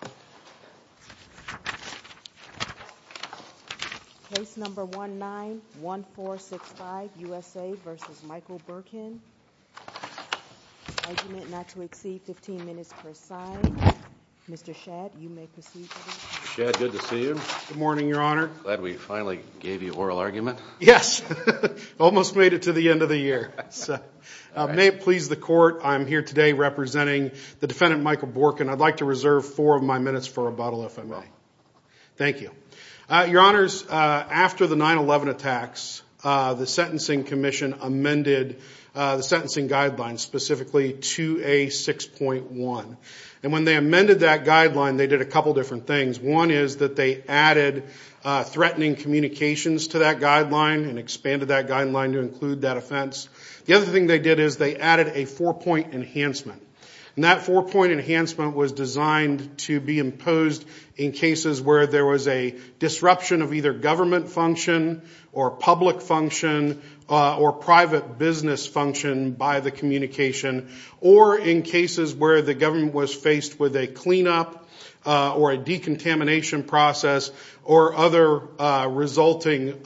Good morning, Your Honor. Glad we finally gave you oral argument. Yes, almost made it to the end of the year. May it please the court, I'm here today representing the defendant Michael Bourquin. I'd like to reserve four of my minutes for rebuttal, if I may. Thank you. Your Honors, after the 9-11 attacks, the Sentencing Commission amended the sentencing guidelines specifically to a 6.1. And when they amended that guideline, they did a couple different things. One is that they added threatening communications to that guideline and expanded that guideline to include that offense. The other thing they did is they added a four-point enhancement. And that four-point enhancement was designed to be imposed in cases where there was a disruption of either government function, or public function, or private business function by the communication, or in cases where the government was faced with a cleanup or a decontamination process, or other resulting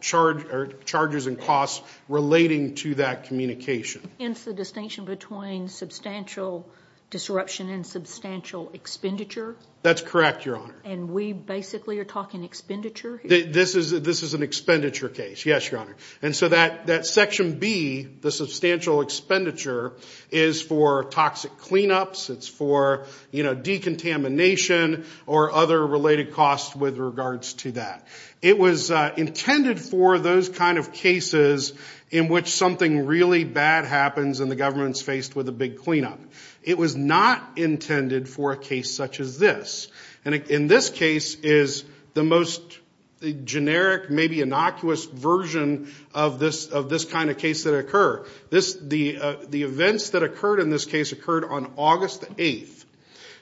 charges and costs relating to that communication. Hence the distinction between substantial disruption and substantial expenditure? That's correct, Your Honor. And we basically are talking expenditure here? This is an expenditure case, yes, Your Honor. And so that section B, the substantial expenditure, is for toxic cleanups, it's for decontamination, or other related costs with regards to that. It was intended for those kind of cases in which something really bad happens and the government's faced with a big cleanup. It was not intended for a case such as this. And in this case is the most generic, maybe innocuous version of this kind of case that occurred. The events that occurred in this case occurred on August 8th.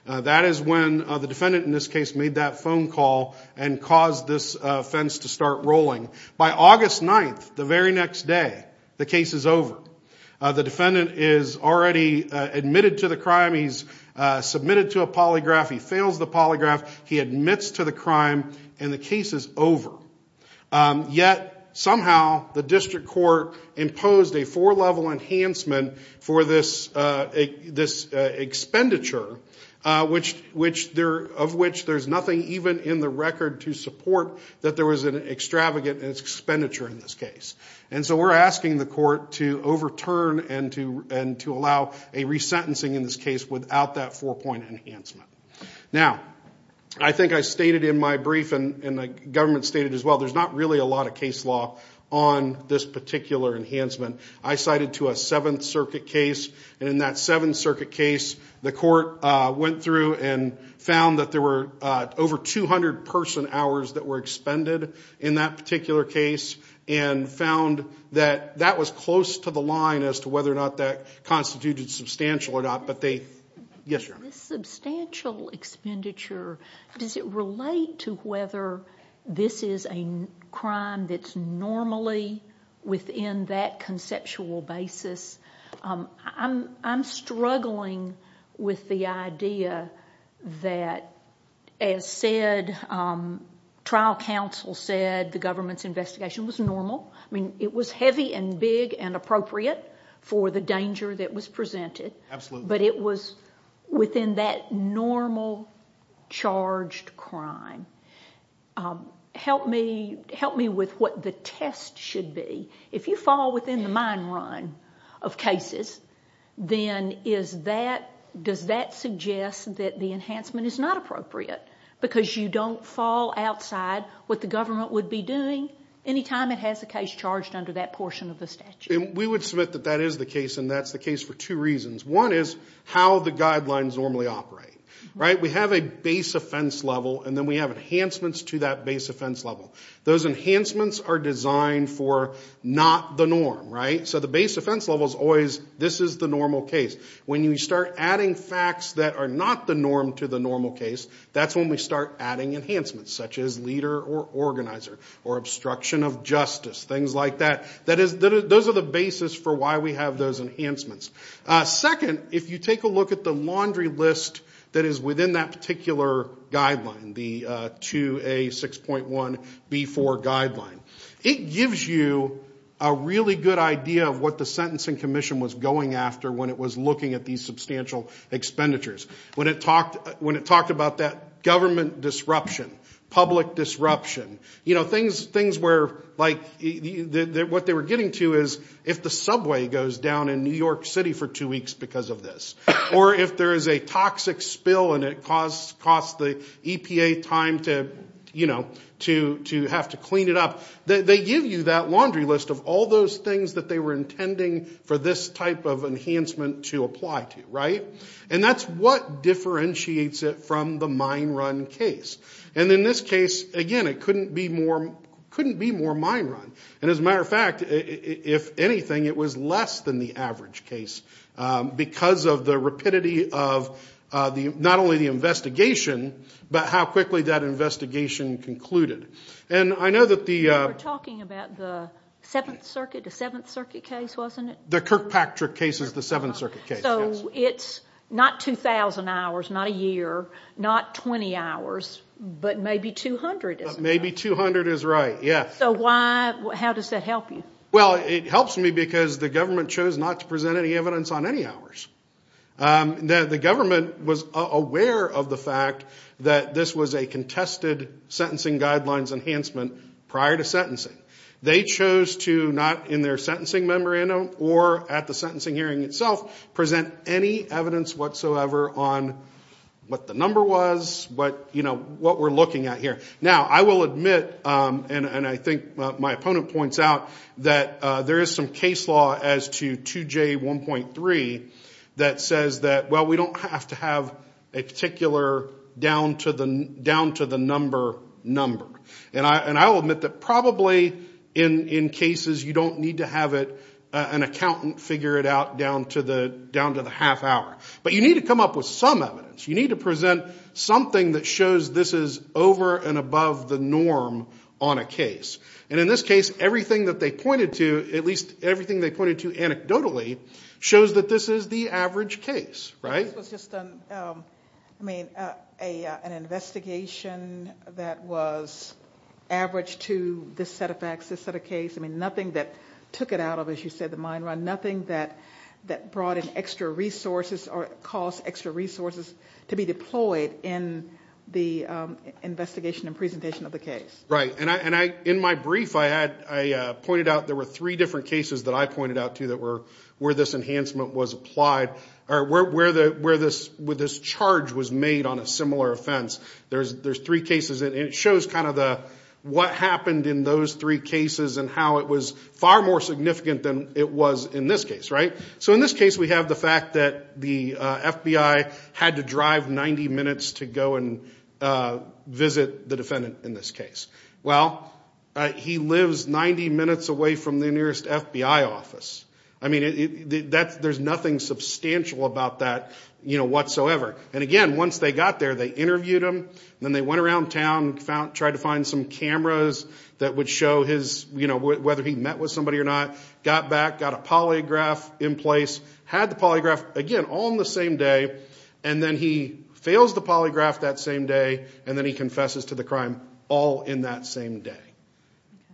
That is when the defendant in this case made that phone call and caused this fence to start rolling. By August 9th, the very next day, the case is over. The defendant is already admitted to the crime, he's submitted to a polygraph, he fails the polygraph, he admits to the crime, and the case is over. Yet somehow the district court imposed a four-level enhancement for this expenditure, of which there's nothing even in the record to support that there was an extravagant expenditure in this case. And so we're asking the court to overturn and to allow a resentencing in this case without that four-point enhancement. Now, I think I stated in my brief, and the government stated as well, there's not really a lot of case law on this particular enhancement. I cited to a Seventh Circuit case, and in that Seventh Circuit case, the court went through and found that there were over 200 person hours that were expended in that particular case, and found that that was close to the line as to whether or not that constituted substantial or not, but they... Yes, ma'am. This substantial expenditure, does it relate to whether this is a crime that's normally within that conceptual basis? I'm struggling with the idea that, as said, trial counsel said the government's investigation was normal. I mean, it was heavy and big and appropriate for the danger that was presented. Absolutely. But it was within that normal charged crime. Help me with what the test should be. If you fall within the mine run of cases, then does that suggest that the enhancement is not appropriate? Because you don't fall outside what the government would be doing any time it has a case charged under that portion of the statute. We would submit that that is the case, and that's the case for two reasons. One is how the guidelines normally operate. We have a base offense level, and then we have enhancements to that base offense level. Those enhancements are designed for not the norm. So the base offense level is always, this is the normal case. When you start adding facts that are not the norm to the normal case, that's when we start adding enhancements, such as leader or organizer, or obstruction of justice, things like that. Those are the basis for why we have those enhancements. Second, if you take a look at the laundry list that is within that particular guideline, the 2A6.1B4 guideline, it gives you a really good idea of what the Sentencing Commission was going after when it was looking at these substantial expenditures. When it talked about that government disruption, public disruption, what they were getting to is if the subway goes down in New York City for two weeks because of this, or if there is a toxic spill and it costs the EPA time to have to clean it up, they give you that laundry list of all those things that they were intending for this type of enhancement to apply to. That's what differentiates it from the mine run case. In this case, again, it couldn't be more mine run. As a matter of fact, if anything, it was less than the average case because of the rapidity of not only the investigation, but how quickly that investigation concluded. I know that the- We were talking about the Seventh Circuit case, wasn't it? The Kirkpatrick case is the Seventh Circuit case, yes. It's not 2,000 hours, not a year, not 20 hours, but maybe 200, isn't it? Maybe 200 is right, yes. How does that help you? It helps me because the government chose not to present any evidence on any hours. The government was aware of the fact that this was a contested sentencing guidelines enhancement prior to sentencing. They chose to not, in their sentencing memorandum or at the sentencing hearing itself, present any evidence whatsoever on what the number was, what we're looking at here. Now, I will admit, and I think my opponent points out, that there is some case law as to 2J1.3 that says that, well, we don't have to have a particular down to the number number. I will admit that probably in cases, you don't need to have an accountant figure it out down to the half hour. You need to come up with some evidence. You need to present something that shows this is over and above the norm on a case. In this case, everything that they pointed to, at least everything they pointed to anecdotally, shows that this is the average case, right? This was just an investigation that was average to this set of facts, this set of case. Nothing that took it out of, as you said, the mine run. Nothing that brought in extra resources or caused extra resources to be deployed in the investigation and presentation of the case. In my brief, I pointed out there were 3 different cases that I pointed out to that were where this enhancement was applied or where this charge was made on a similar offense. There are 3 cases, and it shows kind of what happened in those 3 cases and how it was far more significant than it was in this case, right? So in this case, we have the fact that the FBI had to drive 90 minutes to go and visit the defendant in this case. Well, he lives 90 minutes away from the nearest FBI office. I mean, there's nothing substantial about that whatsoever. And again, once they got there, they interviewed him, and then they went around town, tried to find some cameras that would show whether he met with somebody or not, got back, got a polygraph in place, had the polygraph, again, all in the same day, and then he fails the polygraph that same day, and then he confesses to the crime all in that same day.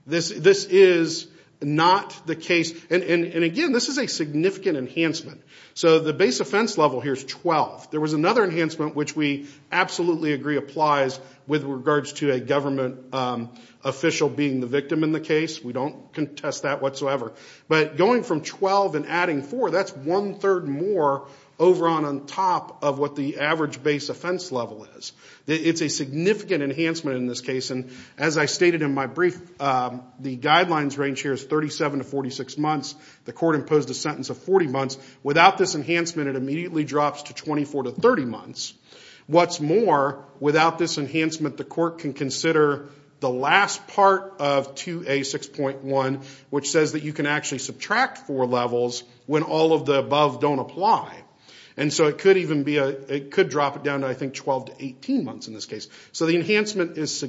This is not the case. And again, this is a significant enhancement. So the base offense level here is 12. There was another enhancement, which we absolutely agree applies with regards to a government official being the victim in the case. We don't contest that whatsoever. But going from 12 and adding 4, that's one third more over on top of what the average base offense level is. It's a significant enhancement in this case, and as I stated in my brief, the guidelines range here is 37 to 46 months. The court imposed a sentence of 40 months. Without this enhancement, it immediately drops to 24 to 30 months. What's more, without this enhancement, the court can consider the last part of 2A6.1, which says that you can actually subtract 4 levels when all of the above don't apply. And so it could drop it down to, I think, 12 to 18 months in this case. So the enhancement is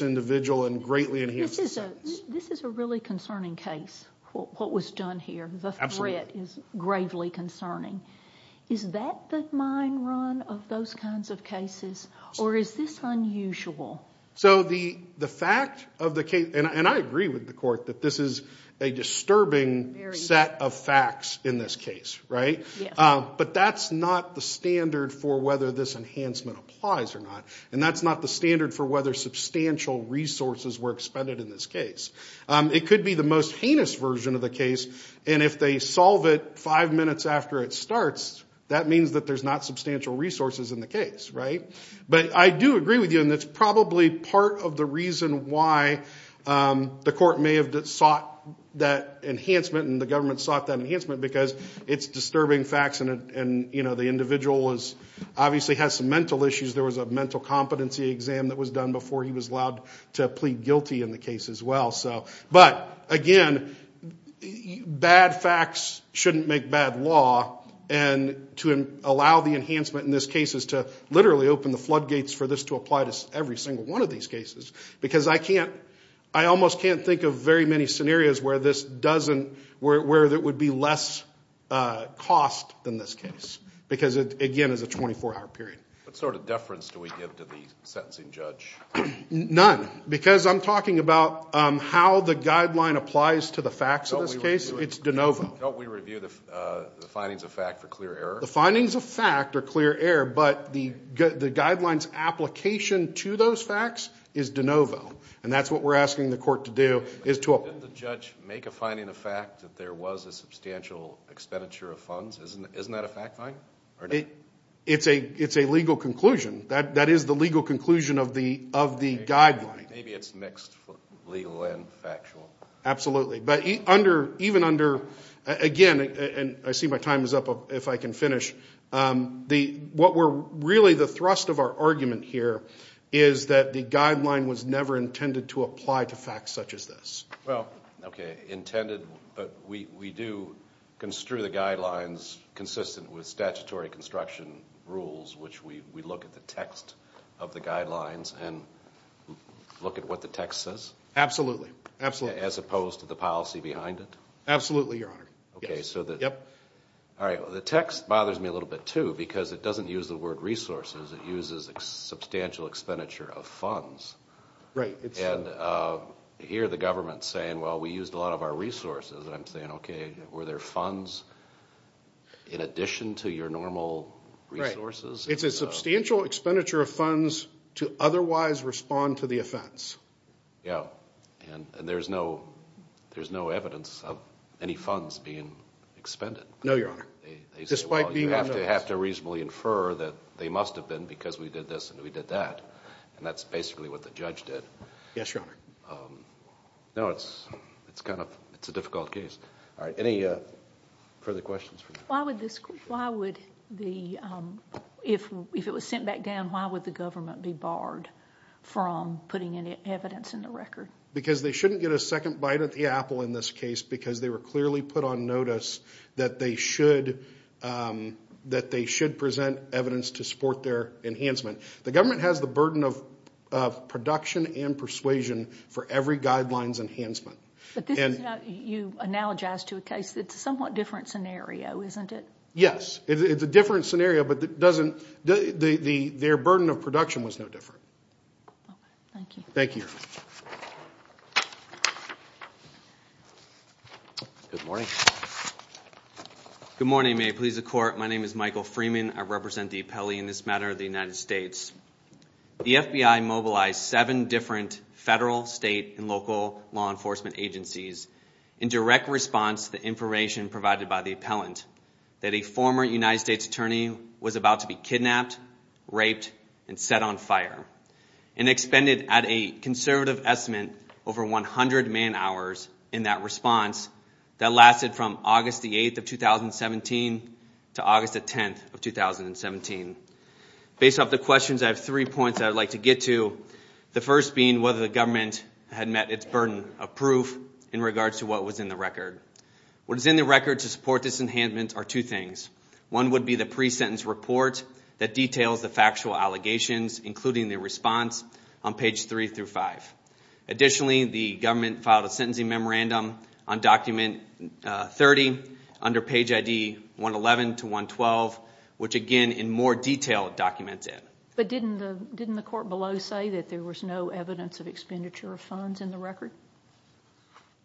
individual and greatly enhances the sentence. This is a really concerning case, what was done here. The threat is gravely concerning. Is that the mind run of those kinds of cases, or is this unusual? So the fact of the case, and I agree with the court that this is a disturbing set of facts in this case, right? But that's not the standard for whether this enhancement applies or not. And that's not the standard for whether substantial resources were expended in this case. It could be the most heinous version of the case, and if they solve it five minutes after it starts, that means that there's not substantial resources in the case, right? But I do agree with you, and that's probably part of the reason why the court may have sought that enhancement and the government sought that enhancement, because it's disturbing facts and the individual obviously has some mental issues. There was a mental competency exam that was done before he was allowed to plead guilty in the case as well. But again, bad facts shouldn't make bad law, and to allow the enhancement in this case is to literally open the floodgates for this to apply to every single one of these cases. Because I almost can't think of very many scenarios where this doesn't, where there is less cost than this case, because it again is a 24-hour period. What sort of deference do we give to the sentencing judge? None, because I'm talking about how the guideline applies to the facts of this case. It's de novo. Don't we review the findings of fact for clear error? The findings of fact are clear error, but the guidelines application to those facts is de novo, and that's what we're asking the court to do. Didn't the judge make a finding of fact that there was a substantial expenditure of funds? Isn't that a fact find? It's a legal conclusion. That is the legal conclusion of the guideline. Maybe it's mixed legal and factual. Absolutely. But even under, again, and I see my time is up if I can finish, what were really the thrust of our argument here is that the guideline was never intended to apply to facts such as this. Well, okay, intended, but we do construe the guidelines consistent with statutory construction rules, which we look at the text of the guidelines and look at what the text says? Absolutely. As opposed to the policy behind it? Absolutely, Your Honor. Okay, so the text bothers me a little bit too, because it doesn't use the word resources. It uses substantial expenditure of funds. Right. And here the government is saying, well, we used a lot of our resources, and I'm saying, okay, were there funds in addition to your normal resources? Right. It's a substantial expenditure of funds to otherwise respond to the offense. Yeah, and there's no evidence of any funds being expended. No, Your Honor, despite being on notice. They say, well, you have to reasonably infer that they must have been because we did this and we did that, and that's basically what the judge did. Yes, Your Honor. No, it's a difficult case. All right, any further questions? If it was sent back down, why would the government be barred from putting any evidence in the record? Because they shouldn't get a second bite at the apple in this case, because they were clearly put on notice that they should present evidence to support their enhancement. They government has the burden of production and persuasion for every guideline's enhancement. But this is not, you analogize to a case, it's a somewhat different scenario, isn't it? Yes, it's a different scenario, but it doesn't, their burden of production was no different. Okay, thank you. Thank you, Your Honor. Good morning. Good morning, may it please the Court. My name is Michael Freeman. I represent the appellee in this matter of the United States. The FBI mobilized seven different federal, state, and local law enforcement agencies in direct response to the information provided by the appellant that a former United States attorney was about to be kidnapped, raped, and set on fire, and expended at a conservative estimate over 100 man hours in that response that lasted from August the 8th of 2017 to August the 10th of 2017. Based off the questions, I have three points I would like to get to. The first being whether the government had met its burden of proof in regards to what was in the record. What is in the record to support this enhancement are two things. One would be the pre-sentence report that details the factual allegations, including the response on page 3 through 5. Additionally, the government filed a sentencing memorandum on document 30 under page ID 111 to 112, which again in more detail documents it. But didn't the court below say that there was no evidence of expenditure of funds in the record?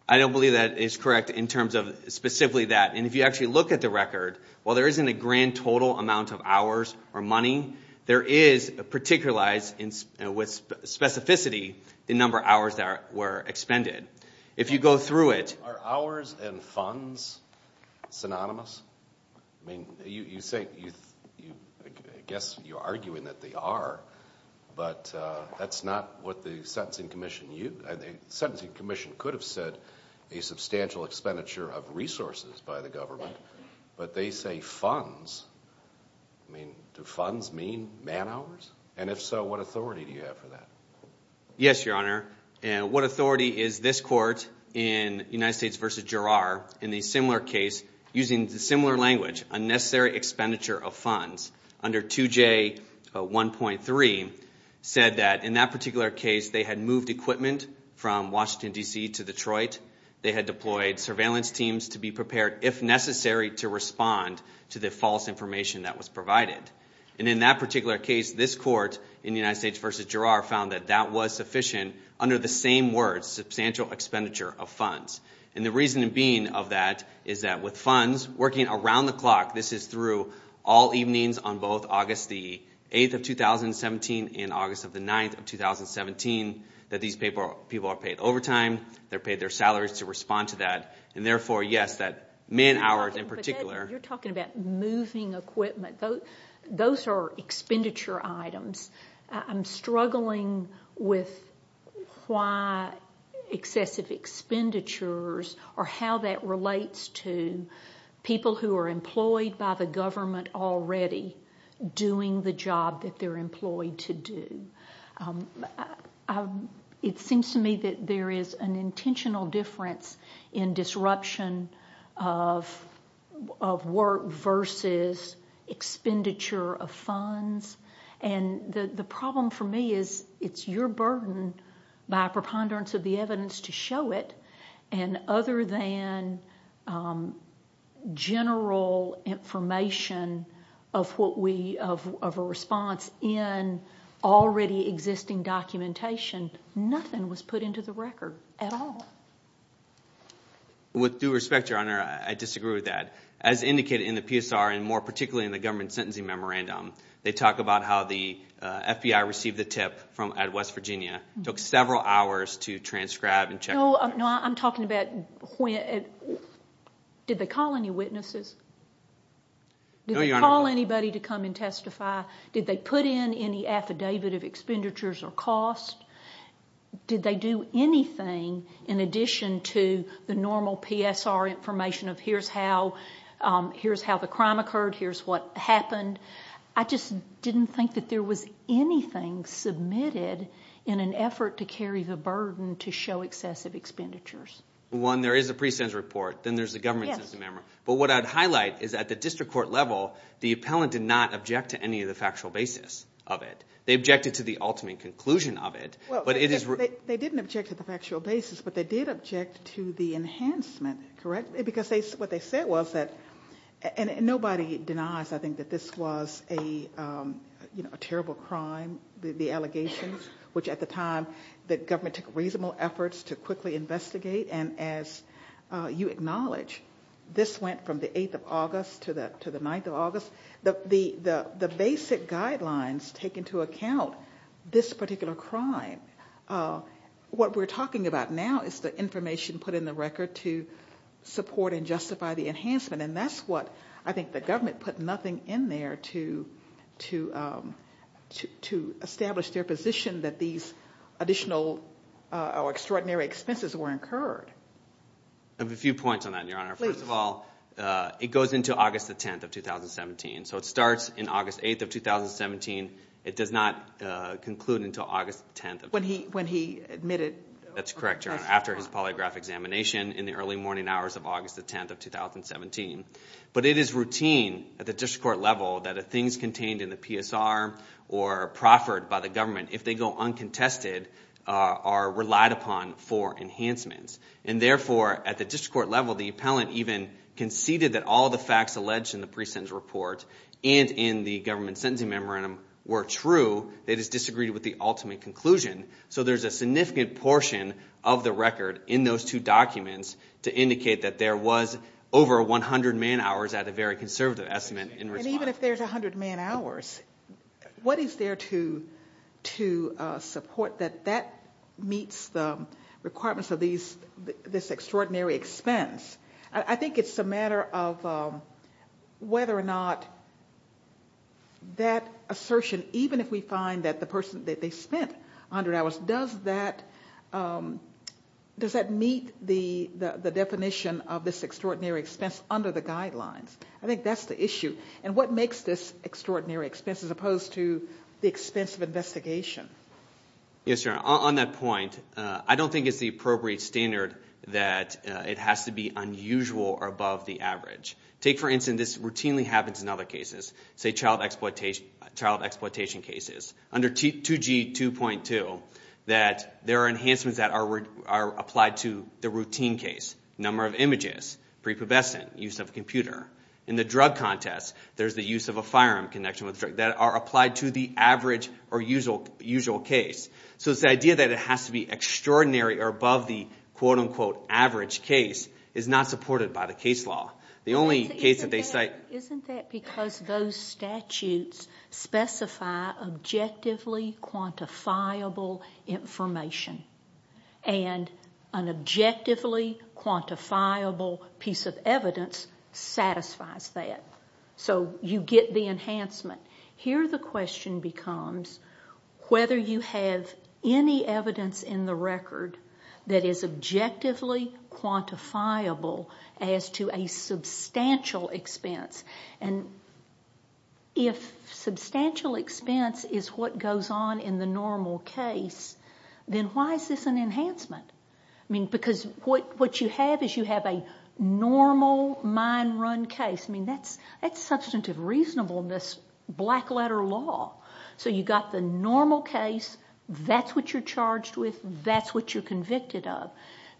I don't believe that is correct in terms of specifically that. And if you actually look at the record, while there isn't a grand total amount of hours or money, there is a particularized with specificity the number of hours that were expended. If you go through it... Are hours and funds synonymous? I mean, you say, I guess you're arguing that they are, but that's not what the sentencing commission used. The sentencing commission could have said a substantial expenditure of resources by the government, but they say funds. I mean, do funds mean man hours? And if so, what authority do you have for that? Yes, Your Honor. What authority is this court in United States v. Gerrard in a similar case using similar language, unnecessary expenditure of funds under 2J1.3 said that in that particular case they had moved equipment from Washington, D.C. to Detroit. They had deployed surveillance teams to be prepared, if necessary, to respond to the false information that was provided. And in that particular case, this court in United States v. Gerrard found that that was sufficient under the same words, substantial expenditure of funds. And the reason being of that is that with funds working around the clock, this is through all evenings on both August the 8th of 2017 and August of the 9th of 2017, that these people are paid overtime, they're paid their salaries to respond to that. And therefore, yes, that man hours in particular... You're talking about moving equipment. Those are expenditure items. I'm struggling with why excessive expenditures or how that relates to people who are employed by the government already doing the job that they're employed to do. It seems to me that there's a lot of intentional difference in disruption of work versus expenditure of funds. And the problem for me is it's your burden by preponderance of the evidence to show it. And other than general information of a response in already existing documentation, nothing was put into the record at all. With due respect, Your Honor, I disagree with that. As indicated in the PSR and more particularly in the government sentencing memorandum, they talk about how the FBI received the tip from West Virginia. It took several hours to transcribe and check... No, I'm talking about... Did they call any witnesses? Did they call anybody to come and submit anything in addition to the normal PSR information of here's how the crime occurred, here's what happened? I just didn't think that there was anything submitted in an effort to carry the burden to show excessive expenditures. One, there is a pre-sentence report. Then there's the government sentencing memorandum. But what I'd highlight is at the district court level, the appellant did not object to any of the factual basis of it. They objected to the ultimate conclusion of it, but it is... They didn't object to the factual basis, but they did object to the enhancement, correct? Because what they said was that, and nobody denies I think that this was a terrible crime, the allegations, which at the time the government took reasonable efforts to quickly investigate. And as you acknowledge, this went from the 8th of August to the 9th of August. The basic guidelines take into account this particular crime. What we're talking about now is the information put in the record to support and justify the enhancement. And that's what I think the government put nothing in there to establish their position that these additional or extraordinary expenses were incurred. I have a few points on that, Your Honor. First of all, it goes into August the 10th of 2017. So it starts in August 8th of 2017. It does not conclude until August 10th of 2017. When he admitted... That's correct, Your Honor, after his polygraph examination in the early morning hours of August the 10th of 2017. But it is routine at the district court level that the things contained in the PSR or proffered by the government, if they go uncontested, are relied upon for enhancements. And therefore, at the district court level, the appellant even conceded that all the facts alleged in the pre-sentence report and in the government sentencing memorandum were true. They just disagreed with the ultimate conclusion. So there's a significant portion of the record in those two documents to indicate that there was over 100 man-hours at a very conservative estimate in response. And even if there's 100 man-hours, what is there to support that that meets the requirements of this extraordinary expense? I think it's a matter of whether or not that assertion, even if we find that the person that they spent 100 hours, does that meet the definition of this extraordinary expense under the guidelines? I think that's the issue. And what makes this extraordinary expense as opposed to the expense of investigation? Yes, Your Honor. On that point, I don't think it's the appropriate standard that it has to be unusual or above the average. Take, for instance, this routinely happens in other cases, say child exploitation cases. Under 2G 2.2, there are enhancements that are applied to the routine case, number of images, prepubescent, use of a computer. In the drug contest, there's the use of a firearm connection with a drug that are applied to the average or usual case. So it's the idea that it has to be extraordinary or above the quote-unquote average case is not supported by the case law. The only case that they cite... Isn't that because those statutes specify objectively quantifiable information? And an objectively quantifiable piece of evidence satisfies that. So you get the enhancement. Here the question becomes whether you have any evidence in the record that is objectively quantifiable as to a substantial expense. If substantial expense is what goes on in the normal case, then why is this an enhancement? Because what you have is you have a normal mine run case. That's substantive reasonableness, black letter law. So you got the normal case. That's what you're charged with. That's what you're convicted of.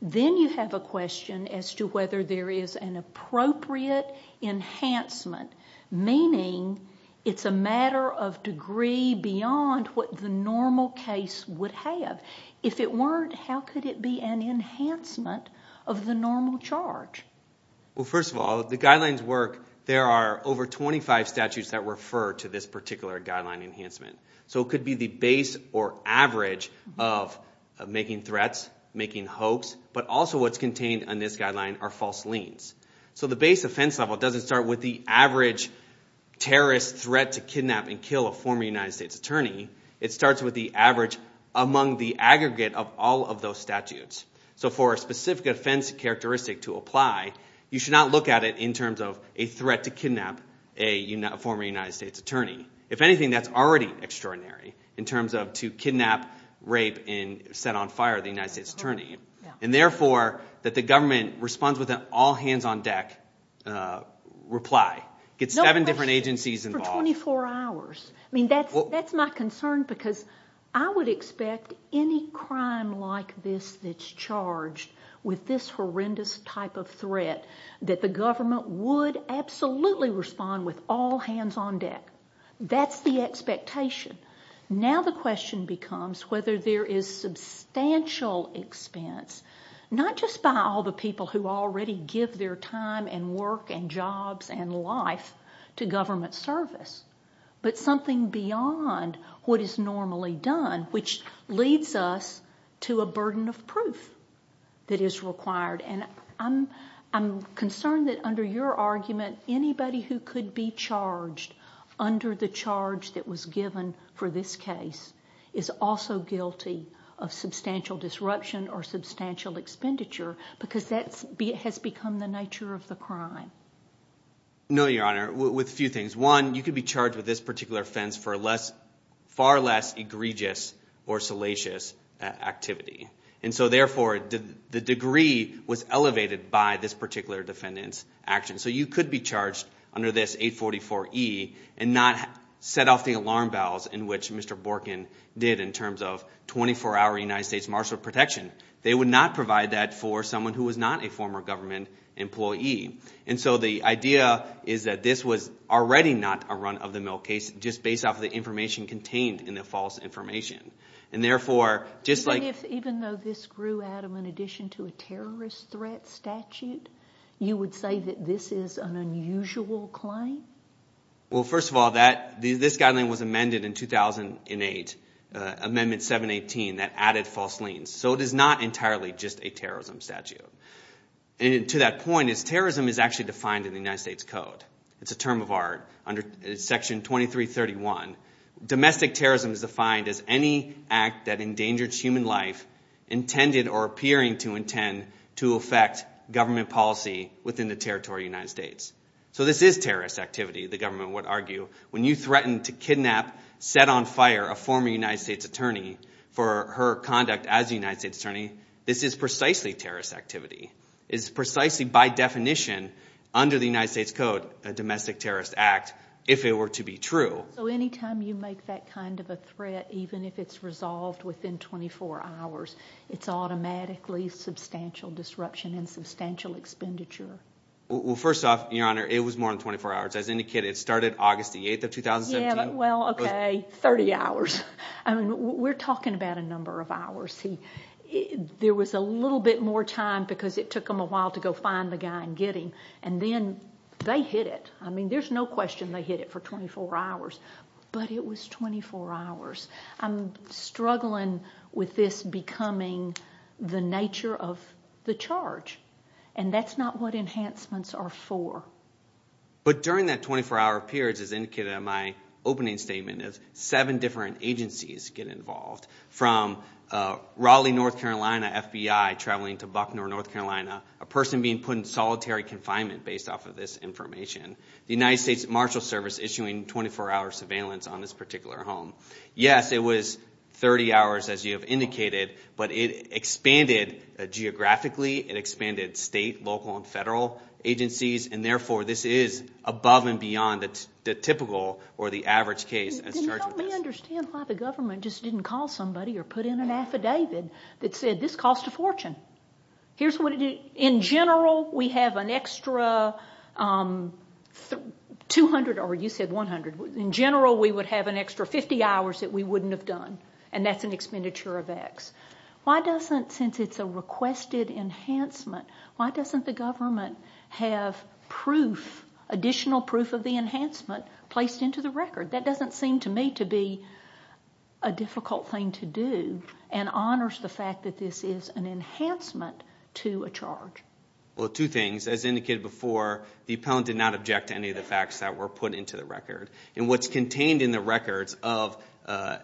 Then you have a question as to whether there is an appropriate enhancement, meaning it's a matter of degree beyond what the normal case would have. If it weren't, how could it be an enhancement of the normal charge? Well, first of all, the guidelines work. There are over 25 statutes that refer to this particular guideline enhancement. So it could be the base or average of making threats, making hoax, but also what's contained in this guideline are false liens. So the base offense level doesn't start with the average terrorist threat to kidnap and kill a former United States attorney. It starts with the average among the aggregate of all of those statutes. So for a specific offense characteristic to apply, you should not look at it in terms of a threat to kidnap a former United States attorney. If anything, that's already extraordinary in terms of to kidnap, rape, and set on fire the United States attorney. And therefore, that the government responds with an all hands on deck reply. Gets seven different agencies involved. For 24 hours. I mean, that's my concern because I would expect any crime like this that's charged with this horrendous type of threat that the government would absolutely respond with all hands on deck. That's the expectation. Now the question becomes whether there is substantial expense, not just by all the people who already give their time and work and jobs and life to government service, but something beyond what is normally done, which leads us to a burden of proof that is required. And I'm concerned that under your argument, anybody who could be charged under the charge that was given for this case is also guilty of substantial disruption or substantial expenditure because that has become the nature of the case. No, Your Honor. With a few things. One, you could be charged with this particular offense for far less egregious or salacious activity. And so therefore, the degree was elevated by this particular defendant's action. So you could be charged under this 844E and not set off the alarm bells in which Mr. Borkin did in terms of 24 hour United States martial protection. They would not provide that for someone who was not a former government employee. And so the idea is that this was already not a run-of-the-mill case just based off of the information contained in the false information. And therefore, just like... Even though this grew, Adam, in addition to a terrorist threat statute, you would say that this is an unusual claim? Well, first of all, this guideline was amended in 2008, Amendment 718, that added false liens. So it is not entirely just a terrorism statute. And to that point, is terrorism is actually defined in the United States Code. It's a term of art. Under Section 2331, domestic terrorism is defined as any act that endangers human life intended or appearing to intend to affect government policy within the territory of the United States. So this is terrorist activity, the government would argue, when you threaten to kidnap, set on fire a former United States attorney for her conduct as a United States attorney, this is precisely terrorist activity. It's precisely by definition under the United States Code, a domestic terrorist act, if it were to be true. So any time you make that kind of a threat, even if it's resolved within 24 hours, it's automatically substantial disruption and substantial expenditure? Well, first off, Your Honor, it was more than 24 hours. As indicated, it started August 8th of 2017. Well, okay, 30 hours. I mean, we're talking about a number of hours. There was a little bit more time because it took them a while to go find the guy and get him. And then they hit it. I mean, there's no question they hit it for 24 hours. But it was 24 hours. I'm struggling with this becoming the nature of the charge. And that's not what enhancements are for. But during that 24-hour period, as indicated in my opening statement, seven different agencies get involved, from Raleigh, North Carolina, FBI traveling to Buckner, North Carolina, a person being put in solitary confinement based off of this information, the United States Marshal Service issuing 24-hour surveillance on this particular home. Yes, it was 30 hours, as you have indicated, but it expanded geographically. It expanded state, local, and federal agencies. And therefore, this is above and beyond the typical or the average case as charged with this. Did you help me understand why the government just didn't call somebody or put in an affidavit that said, this cost a fortune. Here's what it did. In general, we have an extra 200, or you said 100. In general, we would have an extra 50 hours that we wouldn't have done. And that's an expenditure of X. Why doesn't, since it's a requested enhancement, why doesn't the government have additional proof of the enhancement placed into the record? That doesn't seem to me to be a difficult thing to do and honors the fact that this is an enhancement to a charge. Well, two things. As indicated before, the appellant did not object to any of the facts that were put into the record. And what's contained in the records of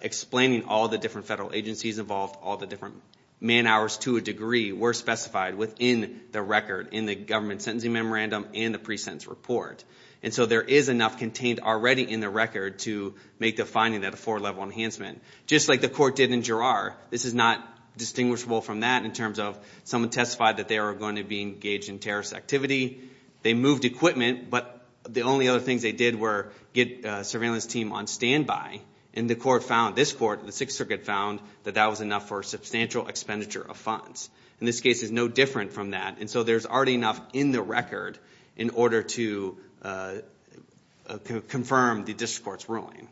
explaining all the different federal agencies involved, all the different man hours to a degree, were specified within the record in the government sentencing memorandum and the pre-sentence report. And so there is enough contained already in the record to make the finding that a four-level enhancement. Just like the court did in Girard, this is not distinguishable from that in terms of someone testified that they were going to be engaged in terrorist activity. They moved equipment, but the only other things they did were get a surveillance team on standby. And the court found, this court, the Sixth Circuit found that that was enough for a substantial expenditure of funds. And this case is no different from that. And so there's already enough in the record in order to confirm the district court's ruling.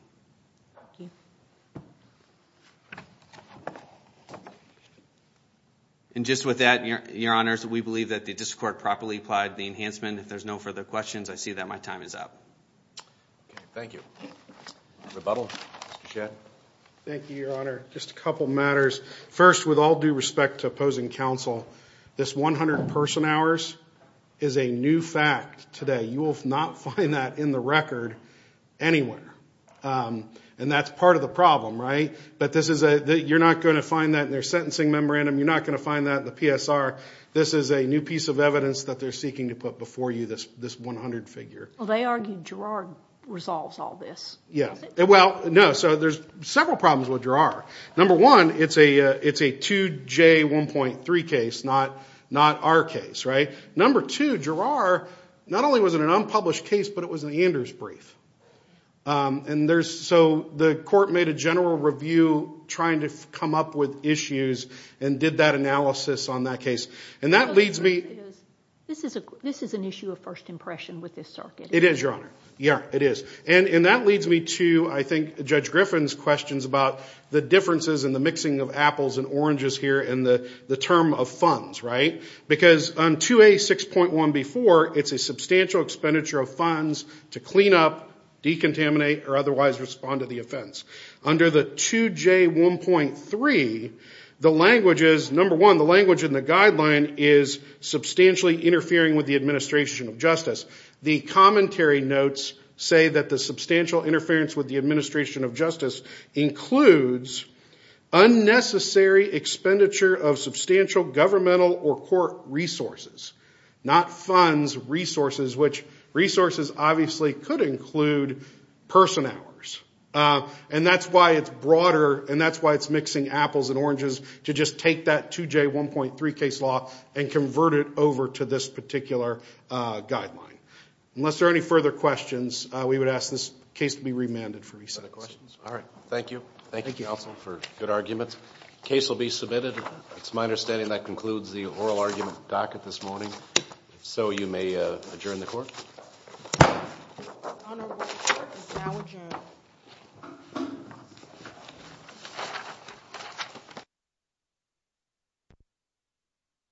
And just with that, your honors, we believe that the district court properly applied the questions. I see that my time is up. Thank you. Thank you, your honor. Just a couple matters. First, with all due respect to opposing counsel, this 100 person hours is a new fact today. You will not find that in the record anywhere. And that's part of the problem, right? But you're not going to find that in their sentencing memorandum. You're not going to find that in the PSR. This is a new piece of evidence that they're seeking to put before you, this 100 figure. Well, they argued Girard resolves all this. Yeah. Well, no. So there's several problems with Girard. Number one, it's a 2J1.3 case, not our case, right? Number two, Girard, not only was it an unpublished case, but it was an Anders brief. So the court made a general review trying to come up with issues and did that analysis on that case. This is an issue of first impression with this circuit. It is, your honor. Yeah, it is. And that leads me to, I think, Judge Griffin's questions about the differences in the mixing of apples and oranges here and the term of funds, right? Because on 2A6.1 before, it's a substantial expenditure of funds to clean up, decontaminate, or otherwise respond to the offense. Under the 2J1.3, the language is, number one, the guideline is substantially interfering with the administration of justice. The commentary notes say that the substantial interference with the administration of justice includes unnecessary expenditure of substantial governmental or court resources, not funds resources, which resources obviously could include person hours. And that's why it's broader, and that's why it's mixing apples and oranges, to just take that 2J1.3 case law and convert it over to this particular guideline. Unless there are any further questions, we would ask this case to be remanded for recess. Other questions? All right. Thank you. Thank you, counsel, for good arguments. Case will be submitted. It's my understanding that concludes the oral argument docket this morning. If so, you may adjourn the court. The Honorable Court is now adjourned.